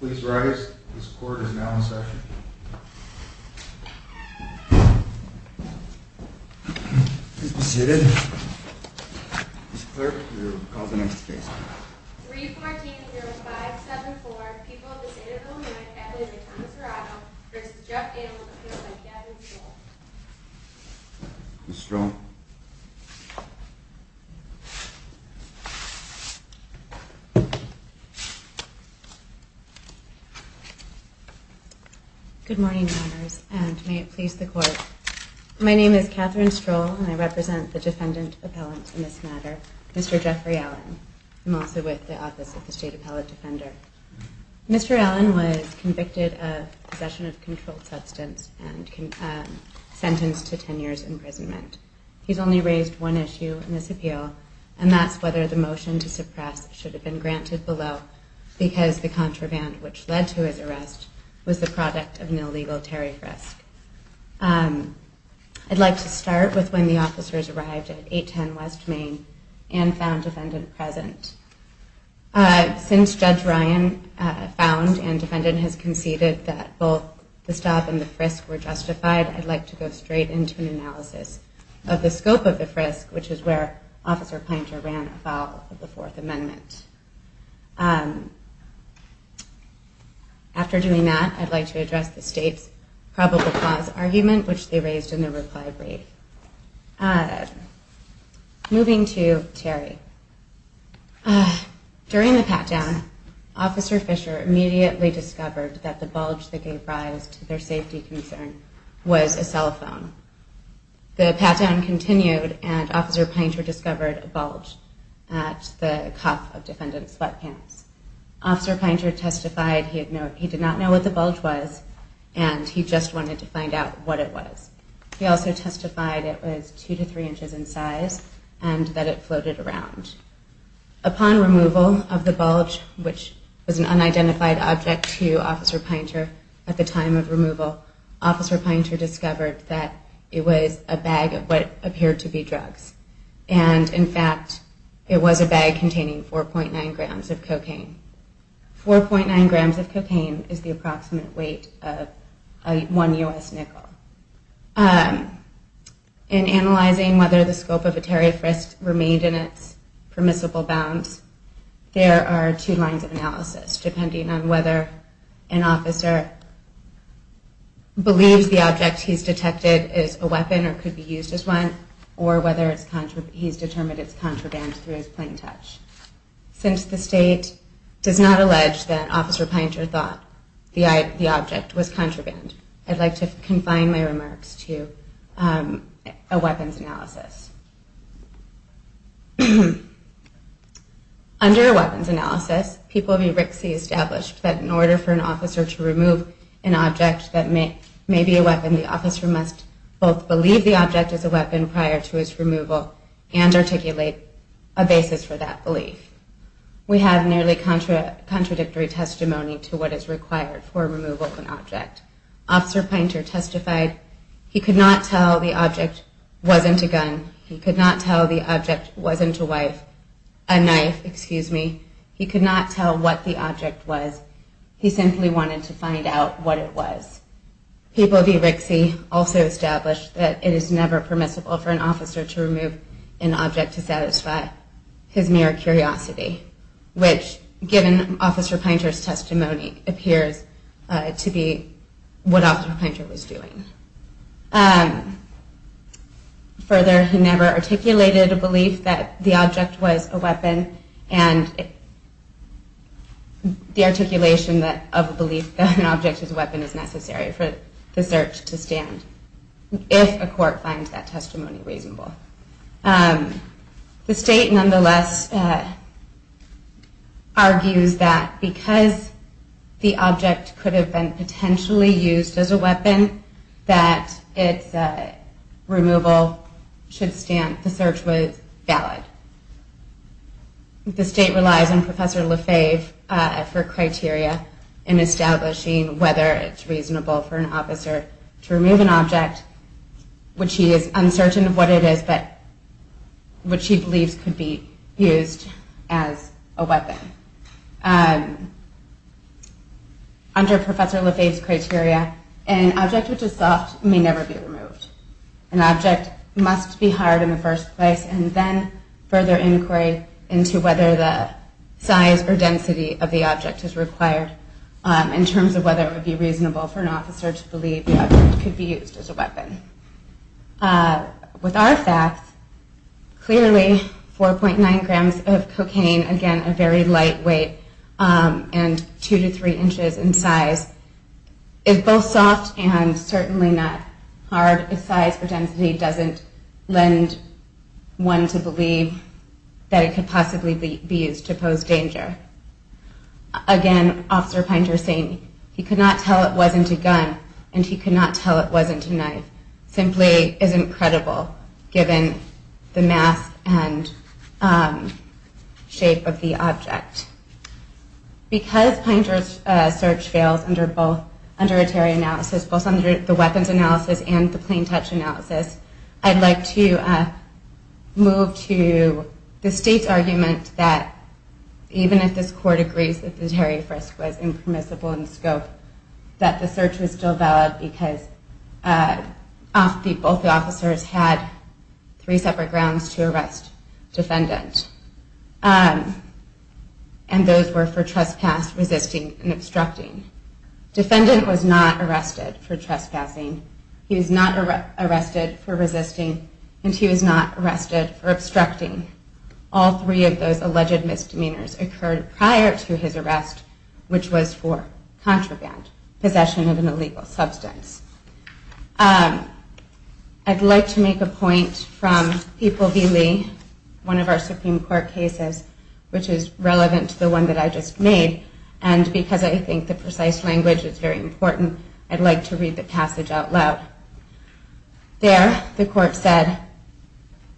Please rise. This court is now in session. Please be seated. Mr. Clerk, we will call the next case. 314-0574, People of the State of Illinois, added to Thomas Dorado v. Jeff Gale, appealed by Gavin Stoll. Ms. Stoll. Good morning, Your Honors, and may it please the Court. My name is Catherine Stroll, and I represent the defendant appellant in this matter, Mr. Jeffrey Allen. I'm also with the Office of the State Appellate Defender. Mr. Allen was convicted of possession of controlled substance and sentenced to 10 years' imprisonment. He's only raised one issue in this appeal, and that's whether the motion to suppress should have been granted below. Because the contraband which led to his arrest was the product of an illegal Terry frisk. I'd like to start with when the officers arrived at 810 West Main and found defendant present. Since Judge Ryan found and defendant has conceded that both the stop and the frisk were justified, I'd like to go straight into an analysis of the scope of the frisk, which is where Officer Pinter ran afoul of the Fourth Amendment. After doing that, I'd like to address the State's probable cause argument, which they raised in the reply brief. Moving to Terry. During the pat-down, Officer Fisher immediately discovered that the bulge that gave rise to their safety concern was a cell phone. The pat-down continued, and Officer Pinter discovered a bulge at the cuff of defendant's sweatpants. Officer Pinter testified he did not know what the bulge was, and he just wanted to find out what it was. He also testified it was 2 to 3 inches in size and that it floated around. Upon removal of the bulge, which was an unidentified object to Officer Pinter at the time of removal, Officer Pinter discovered that it was a bag of what appeared to be drugs. And, in fact, it was a bag containing 4.9 grams of cocaine. 4.9 grams of cocaine is the approximate weight of one U.S. nickel. In analyzing whether the scope of a Terry frisk remained in its permissible bounds, there are two lines of analysis depending on whether an officer believes the object he's detected is a weapon or could be used as one, or whether he's determined it's contraband through his plain touch. Since the state does not allege that Officer Pinter thought the object was contraband, I'd like to confine my remarks to a weapons analysis. Under a weapons analysis, people v. Rixey established that in order for an officer to remove an object that may be a weapon, the officer must both believe the object is a weapon prior to its removal and articulate a basis for that belief. We have nearly contradictory testimony to what is required for removal of an object. Officer Pinter testified he could not tell the object wasn't a gun. He could not tell the object wasn't a knife. He could not tell what the object was. He simply wanted to find out what it was. People v. Rixey also established that it is never permissible for an officer to remove an object to satisfy his mere curiosity, which, given Officer Pinter's testimony, appears to be what Officer Pinter was doing. Further, he never articulated a belief that the object was a weapon, and the articulation of a belief that an object is a weapon is necessary for the search to stand, if a court finds that testimony reasonable. The state, nonetheless, argues that because the object could have been potentially used as a weapon, that its removal should stand, the search was valid. The state relies on Professor Lefebvre for criteria in establishing whether it's reasonable for an officer to remove an object, which he is uncertain of what it is, but which he believes could be used as a weapon. Under Professor Lefebvre's criteria, an object which is soft may never be removed. An object must be hired in the first place and then further inquiry into whether the size or density of the object is required in terms of whether it would be reasonable for an officer to believe the object could be used as a weapon. With our facts, clearly 4.9 grams of cocaine, again a very lightweight, and 2 to 3 inches in size, is both soft and certainly not hard if size or density doesn't lend one to believe that it could possibly be used to pose danger. Again, Officer Pinter saying he could not tell it wasn't a gun, and he could not tell it wasn't a knife. It simply isn't credible given the mass and shape of the object. Because Pinter's search fails under a Terry analysis, both under the weapons analysis and the plain touch analysis, I'd like to move to the state's argument that even if this court agrees that the Terry frisk was impermissible in scope, that the search was still valid because both officers had three separate grounds to arrest defendant. And those were for trespass, resisting, and obstructing. Defendant was not arrested for trespassing, he was not arrested for resisting, and he was not arrested for obstructing. All three of those alleged misdemeanors occurred prior to his arrest, which was for contraband, possession of an illegal substance. I'd like to make a point from People v. Lee, one of our Supreme Court cases, which is relevant to the one that I just made, and because I think the precise language is very important, I'd like to read the passage out loud. There, the court said,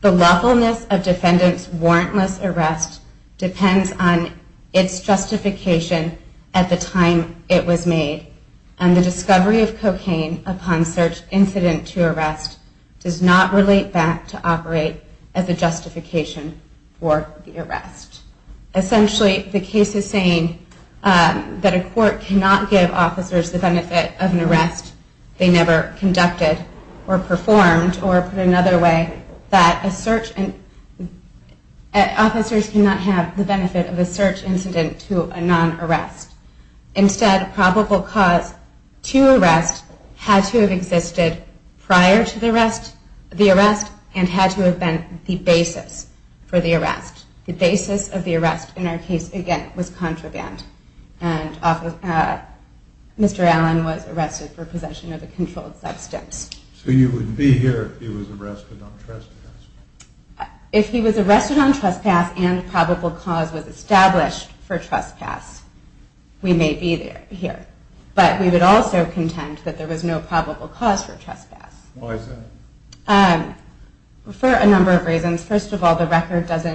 The lawfulness of defendant's warrantless arrest depends on its justification at the time it was made, and the discovery of cocaine upon search incident to arrest does not relate back to operate as a justification for the arrest. Essentially, the case is saying that a court cannot give officers the benefit of an arrest they never conducted or performed, or put another way, that officers cannot have the benefit of a search incident to a non-arrest. Instead, probable cause to arrest had to have existed prior to the arrest, and had to have been the basis for the arrest. The basis of the arrest in our case, again, was contraband, and Mr. Allen was arrested for possession of a controlled substance. So you would be here if he was arrested on trespass? If he was arrested on trespass and probable cause was established for trespass, we may be here. But we would also contend that there was no probable cause for trespass. Why is that? For a number of reasons. First of all, the record is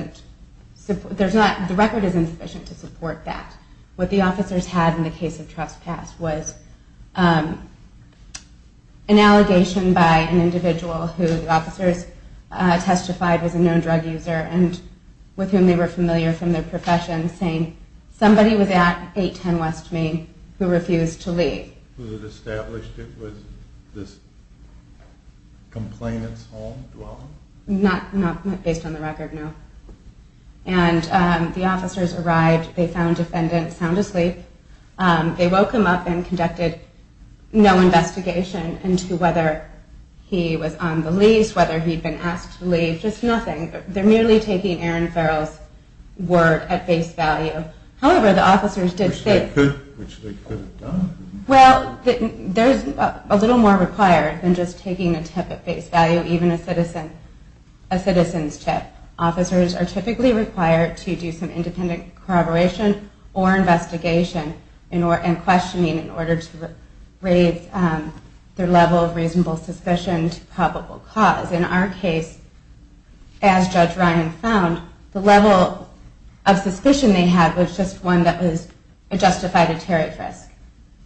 insufficient to support that. What the officers had in the case of trespass was an allegation by an individual who the officers testified was a known drug user, and with whom they were familiar from their profession, saying somebody was at 810 West Main who refused to leave. Who had established it was this complainant's home, dwelling? Not based on the record, no. And the officers arrived, they found the defendant sound asleep. They woke him up and conducted no investigation into whether he was on the lease, whether he'd been asked to leave, just nothing. They're merely taking Aaron Farrell's word at face value. However, the officers did say... Which they could have done. Well, there's a little more required than just taking a tip at face value, even a citizen's tip. Officers are typically required to do some independent corroboration or investigation and questioning in order to raise their level of reasonable suspicion to probable cause. In our case, as Judge Ryan found, the level of suspicion they had was just one that justified a tariff risk.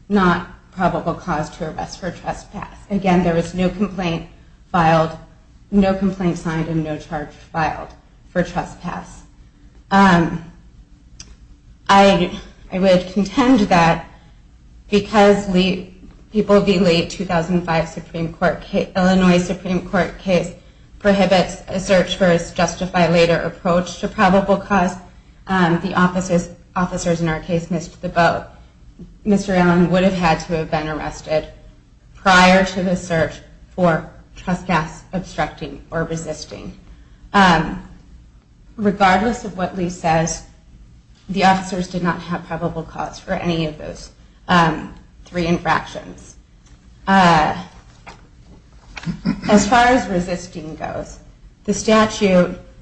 Not probable cause to arrest for trespass. Again, there was no complaint filed, no complaint signed, and no charge filed for trespass. I would contend that because people of the late 2005 Illinois Supreme Court case prohibits a search for a justified later approach to probable cause, the officers in our case missed the boat. Mr. Allen would have had to have been arrested prior to the search for trespass obstructing or resisting. Regardless of what Lee says, the officers did not have probable cause for any of those three infractions. As far as resisting goes,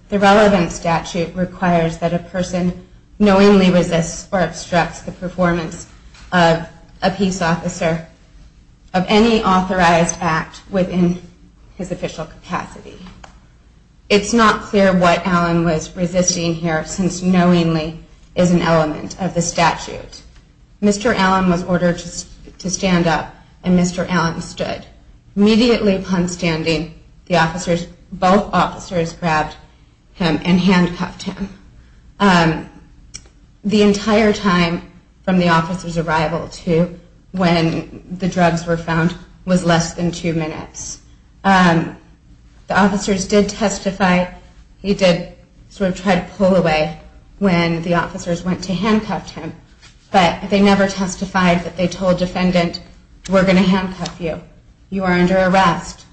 the relevant statute requires that a person knowingly resists or obstructs the presence of a peace officer of any authorized act within his official capacity. It's not clear what Allen was resisting here, since knowingly is an element of the statute. Mr. Allen was ordered to stand up, and Mr. Allen stood. Immediately upon standing, both officers grabbed him and handcuffed him. The entire time from the officers' arrival to when the drugs were found was less than two minutes. The officers did testify, he did sort of try to pull away when the officers went to handcuff him, but they never testified that they told defendant, we're going to handcuff you. You are under arrest.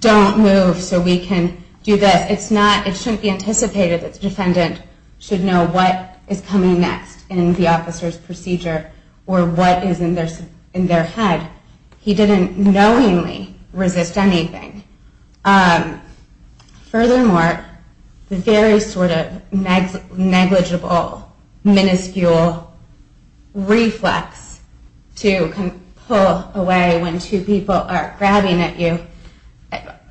Don't move so we can do this. It shouldn't be anticipated that the defendant should know what is coming next in the officer's procedure or what is in their head. He didn't knowingly resist anything. Furthermore, the very sort of negligible, minuscule reflex to pull away when two people are grabbing at you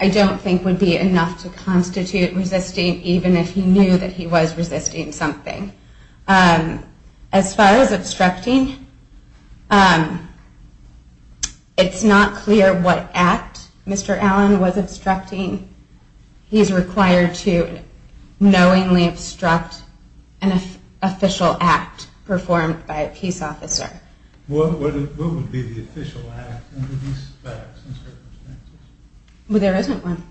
I don't think would be enough to constitute resisting, even if he knew that he was resisting something. As far as obstructing, it's not clear what act Mr. Allen was obstructing. He is required to knowingly obstruct an official act performed by a peace officer. What would be the official act under these circumstances? There isn't one.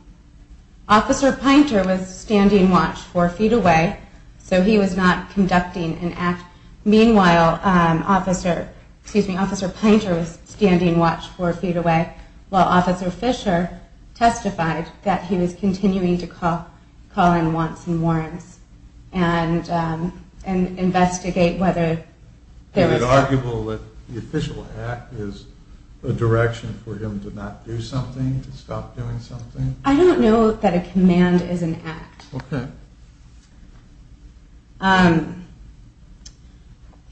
Officer Pinter was standing watch four feet away, so he was not conducting an act. Meanwhile, Officer Pinter was standing watch four feet away while Officer Fisher testified that he was continuing to call in wants and warrants and investigate whether there was... Is it arguable that the official act is a direction for him to not do something, to stop doing something? I don't know that a command is an act.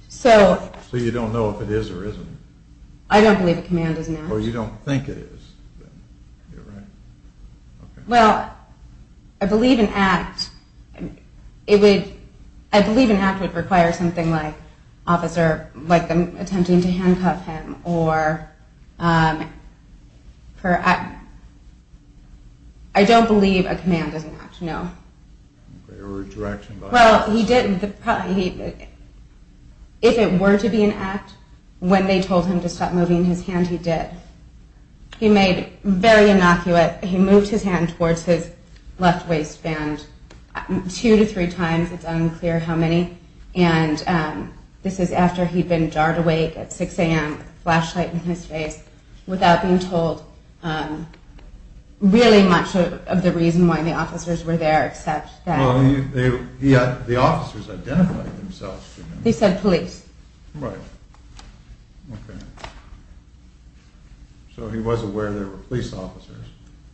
So you don't know if it is or isn't? I don't believe a command is an act. Or you don't think it is? Well, I believe an act would require something like an officer attempting to handcuff him. I don't believe a command is an act, no. If it were to be an act, when they told him to stop moving his hand, he did. He moved his hand towards his left waistband two to three times, it's unclear how many. And this is after he'd been jarred awake at 6am, flashlight in his face, without being told really much of the reason why the officers were there, except that... Well, the officers identified themselves. They said police. Right. So he was aware there were police officers.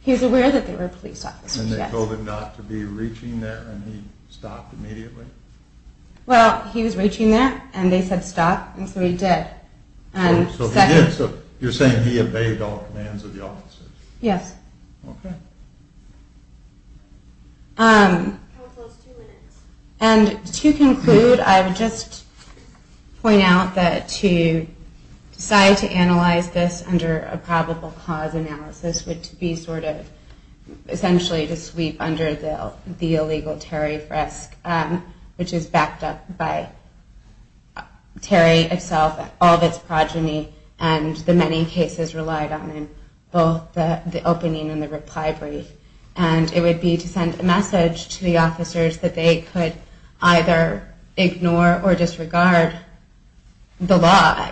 He was aware that there were police officers, yes. And they told him not to be reaching there, and he stopped immediately? Well, he was reaching there, and they said stop, and so he did. So you're saying he obeyed all commands of the officers? Yes. Okay. And to conclude, I would just point out that to decide to analyze this under a probable cause analysis would be sort of essentially to sweep under the illegal Terry frisk, which is backed up by Terry itself, all of its progeny, and the many cases relied on in both the opening and the reply brief. And it would be to send a message to the officers that they could either ignore or disregard the law.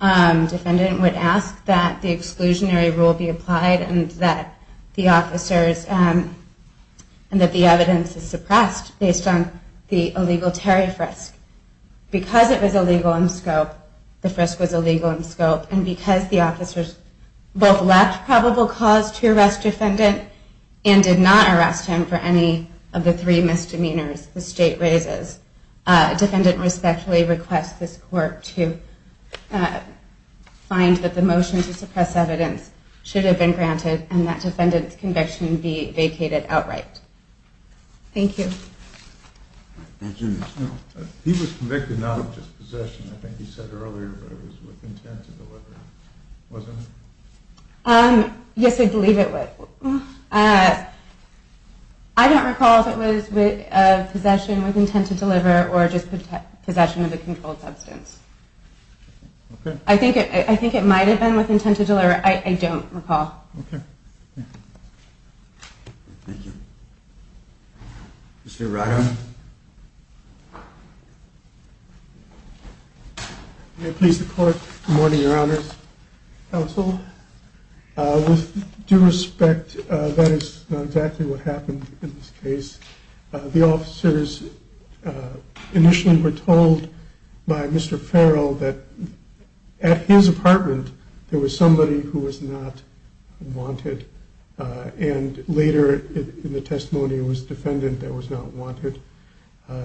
Defendant would ask that the exclusionary rule be applied, and that the officers, and that the evidence is suppressed based on the illegal Terry frisk. Because it was illegal in scope, the frisk was illegal in scope, and because the officers both left probable cause to arrest defendant, and did not arrest him for any of the three misdemeanors the state raises, defendant respectfully requests this court to find that the motion to suppress evidence should have been granted, and that defendant's conviction be vacated outright. Thank you. Thank you. He was convicted not of just possession, I think you said earlier, but it was with intent to deliver, wasn't it? Yes, I believe it was. I don't recall if it was possession with intent to deliver, or just possession of a controlled substance. Okay. I think it might have been with intent to deliver, I don't recall. Okay. Thank you. Mr. Rado. May it please the court, good morning, your honors, counsel. With due respect, that is not exactly what happened in this case. The officers initially were told by Mr. Farrell that at his apartment there was somebody who was not wanted, and later in the testimony it was the defendant that was not wanted.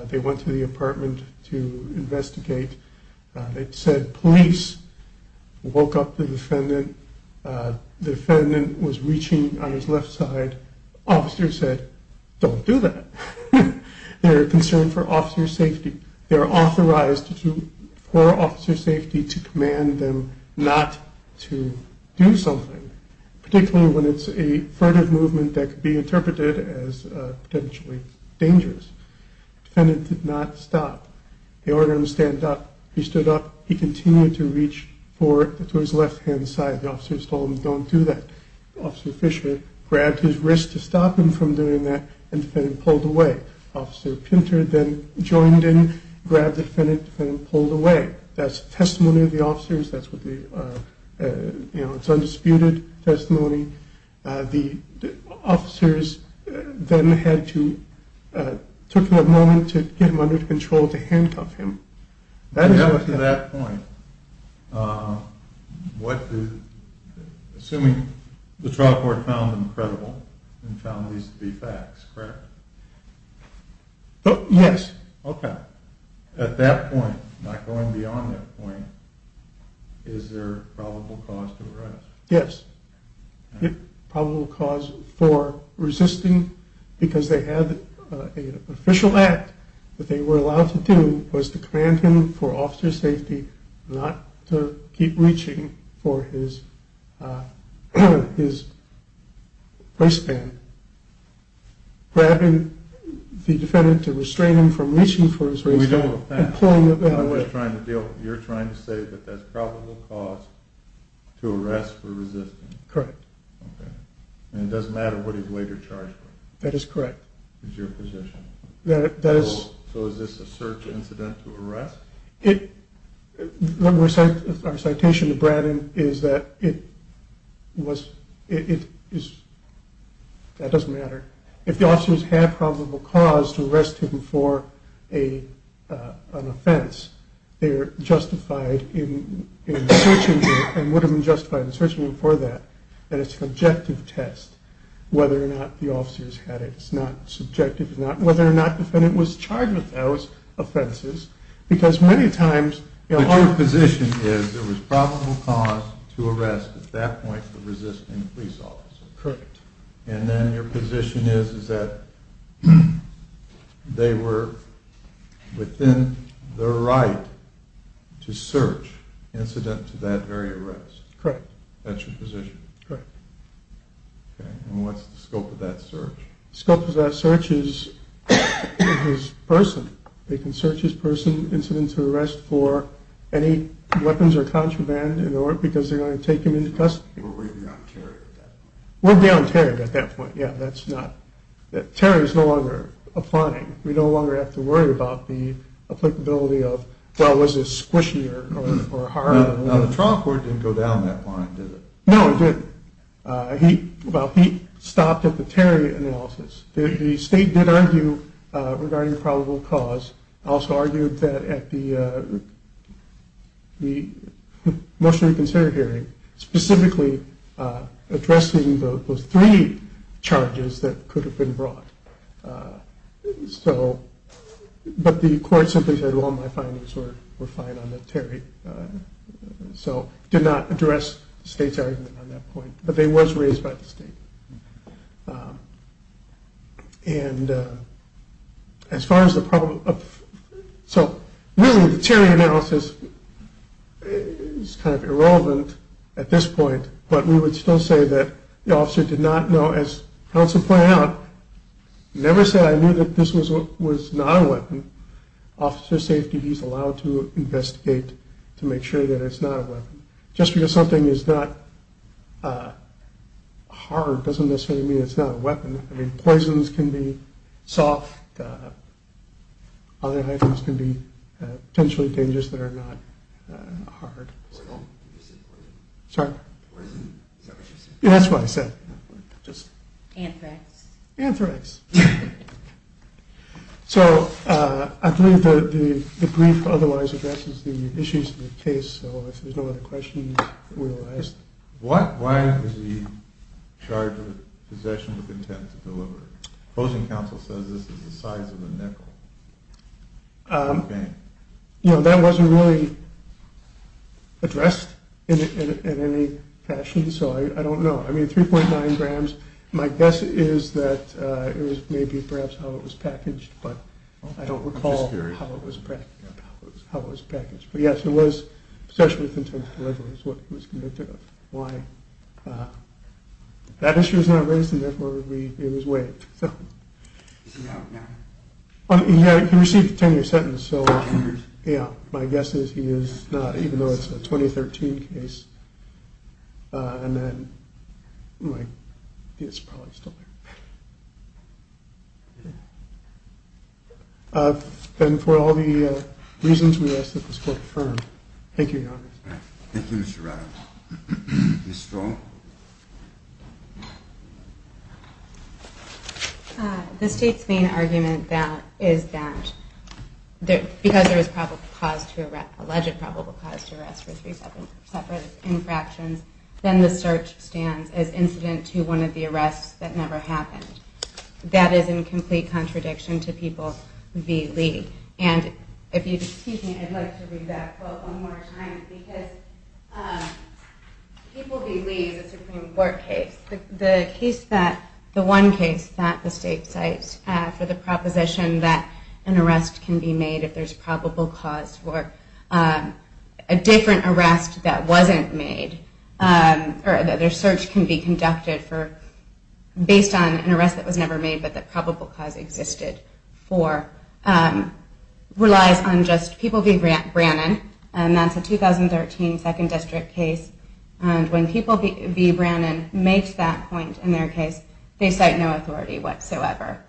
They went to the apartment to investigate. It said police woke up the defendant. The defendant was reaching on his left side. Officers said, don't do that. They're concerned for officer's safety. They're authorized for officer's safety to command them not to do something, particularly when it's a furtive movement that could be interpreted as potentially dangerous. The defendant did not stop. They ordered him to stand up. He stood up. He continued to reach forward to his left-hand side. The officers told him, don't do that. Officer Fisher grabbed his wrist to stop him from doing that, and the defendant pulled away. Officer Pinter then joined in, grabbed the defendant, and the defendant pulled away. That's the testimony of the officers. It's undisputed testimony. The officers then took a moment to get him under control to handcuff him. At that point, assuming the trial court found him credible and found these to be facts, correct? Yes. Okay. At that point, not going beyond that point, is there probable cause to arrest? Yes. The probable cause for resisting, because they had an official act that they were allowed to do, was to command him for officer's safety not to keep reaching for his waistband. Grabbing the defendant to restrain him from reaching for his waistband. We don't have that. You're trying to say that that's probable cause to arrest for resisting. Correct. And it doesn't matter what he's later charged with. That is correct. Is your position. So is this a search incident to arrest? Our citation to Brandon is that it was, it is, that doesn't matter. If the officers had probable cause to arrest him for an offense, they're justified in searching him and would have been justified in searching him for that. And it's an objective test whether or not the officers had it. It's not subjective. It's not whether or not the defendant was charged with those offenses. But your position is there was probable cause to arrest at that point for resisting a police officer. Correct. And then your position is that they were within their right to search incident to that very arrest. Correct. That's your position. Correct. And what's the scope of that search? The scope of that search is his person. They can search his person, incident to arrest for any weapons or contraband because they're going to take him into custody. Were we beyond Terry at that point? We're beyond Terry at that point. Yeah, that's not, Terry's no longer applying. We no longer have to worry about the applicability of, well, was this squishy or hard? Now the trial court didn't go down that line, did it? No, it didn't. He, well, he stopped at the Terry analysis. The state did argue regarding probable cause. Also argued that at the motion to reconsider hearing, specifically addressing those three charges that could have been brought. So, but the court simply said, well, my findings were fine on that Terry. So did not address the state's argument on that point. It was raised by the state. And as far as the problem, so really the Terry analysis is kind of irrelevant at this point. But we would still say that the officer did not know, as counsel pointed out, never said I knew that this was not a weapon. Officer safety, he's allowed to investigate to make sure that it's not a weapon. Just because something is not hard doesn't necessarily mean it's not a weapon. I mean, poisons can be soft. Other items can be potentially dangerous that are not hard. Sorry? Yeah, that's what I said. Anthrax. Anthrax. So I believe the brief otherwise addresses the issues of the case. So if there's no other questions, we'll ask. Why is he charged with possession with intent to deliver? Opposing counsel says this is the size of a nickel. You know, that wasn't really addressed in any fashion. So I don't know. I mean, 3.9 grams. My guess is that it was maybe perhaps how it was packaged. But I don't recall how it was packaged. But yes, it was possession with intent to deliver is what he was convicted of. Why? That issue is not raised and therefore it was waived. He received a 10-year sentence. So my guess is he is not, even though it's a 2013 case. And then my guess is he's probably still there. And for all the reasons we asked that this court confirm. Thank you, Your Honor. Thank you, Mr. Radovich. Ms. Stroh? The state's main argument is that because there was probable cause to arrest, for three separate infractions, then the search stands as incident to one of the arrests that never happened. That is in complete contradiction to People v. Lee. And if you'd excuse me, I'd like to read that quote one more time. Because People v. Lee is a Supreme Court case. The case that, the one case that the state cites for the proposition that an arrest can be made if there's probable cause for a different arrest that wasn't made, or that their search can be conducted for, based on an arrest that was never made but that probable cause existed for, relies on just People v. Brannon. And that's a 2013 Second District case. And when People v. Brannon makes that point in their case, they cite no authority whatsoever.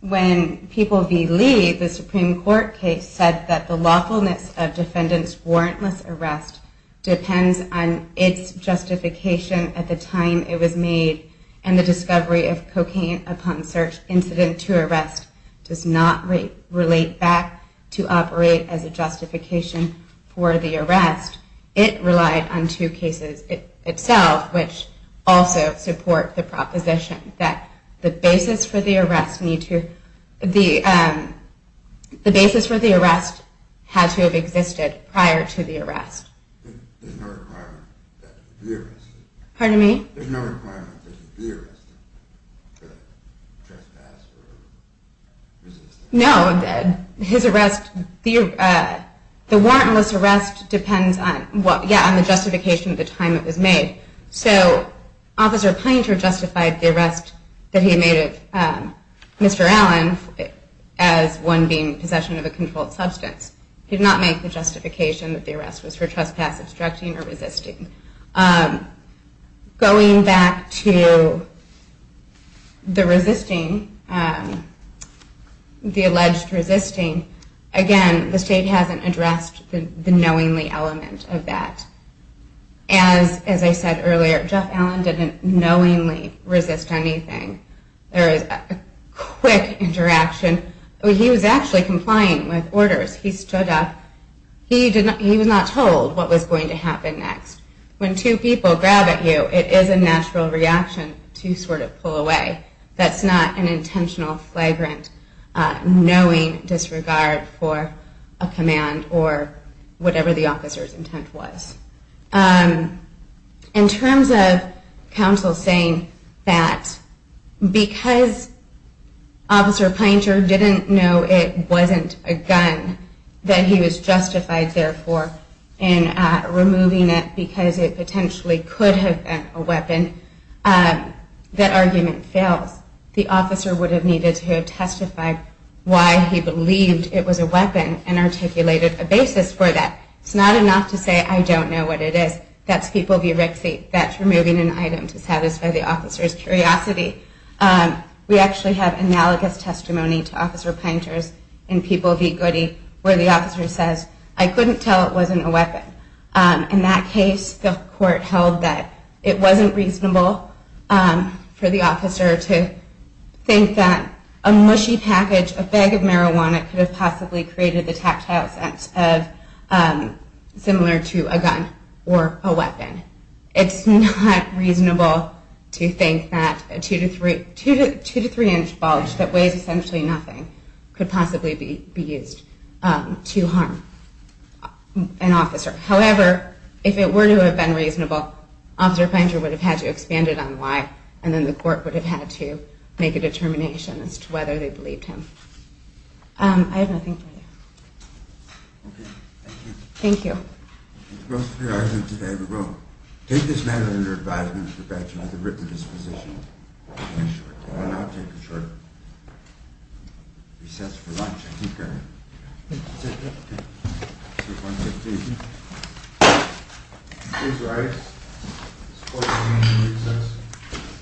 When People v. Lee, the Supreme Court case, said that the lawfulness of defendants' warrantless arrest depends on its justification at the time it was made, and the discovery of cocaine upon search incident to arrest does not relate back to operate as a justification for the arrest, it relied on two cases itself, which also support the proposition that the basis for the arrest had to have existed prior to the arrest. There's no requirement that it be arrested? Pardon me? There's no requirement that it be arrested for the trespass or resisting? No, his arrest, the warrantless arrest depends on the justification at the time it was made. So, Officer Painter justified the arrest that he made of Mr. Allen as one being possession of a controlled substance. He did not make the justification that the arrest was for trespass, obstructing, or resisting. Going back to the resisting, the alleged resisting, again, the state hasn't addressed the knowingly element of that. As I said earlier, Jeff Allen didn't knowingly resist anything. There was a quick interaction. He was actually complying with orders. He was not told what was going to happen next. When two people grab at you, it is a natural reaction to sort of pull away. That's not an intentional, flagrant, knowing disregard for a command or whatever the officer's intent was. In terms of counsel saying that because Officer Painter didn't know it wasn't a gun that he was justified there for in removing it because it potentially could have been a weapon, that argument fails. The officer would have needed to have testified why he believed it was a weapon and articulated a basis for that. It's not enough to say, I don't know what it is. That's people v. Rixey. That's removing an item to satisfy the officer's curiosity. We actually have analogous testimony to Officer Painter's in People v. Goody where the officer says, I couldn't tell it wasn't a weapon. In that case, the court held that it wasn't reasonable for the officer to think that a mushy package, a bag of marijuana could have possibly created the tactile sense similar to a gun or a weapon. It's not reasonable to think that a 2-3 inch bulge that weighs essentially nothing could possibly be used to harm an officer. However, if it were to have been reasonable, Officer Painter would have had to expand it on why and then the court would have had to make a determination as to whether they believed him. I have nothing further. Okay, thank you. Thank you. That's both of your arguments today. We will take this matter under advisement of the Batchelor at the written disposition. I will now take a short recess for lunch. Thank you, Karen. 3.15. Please rise. This court is now in recess.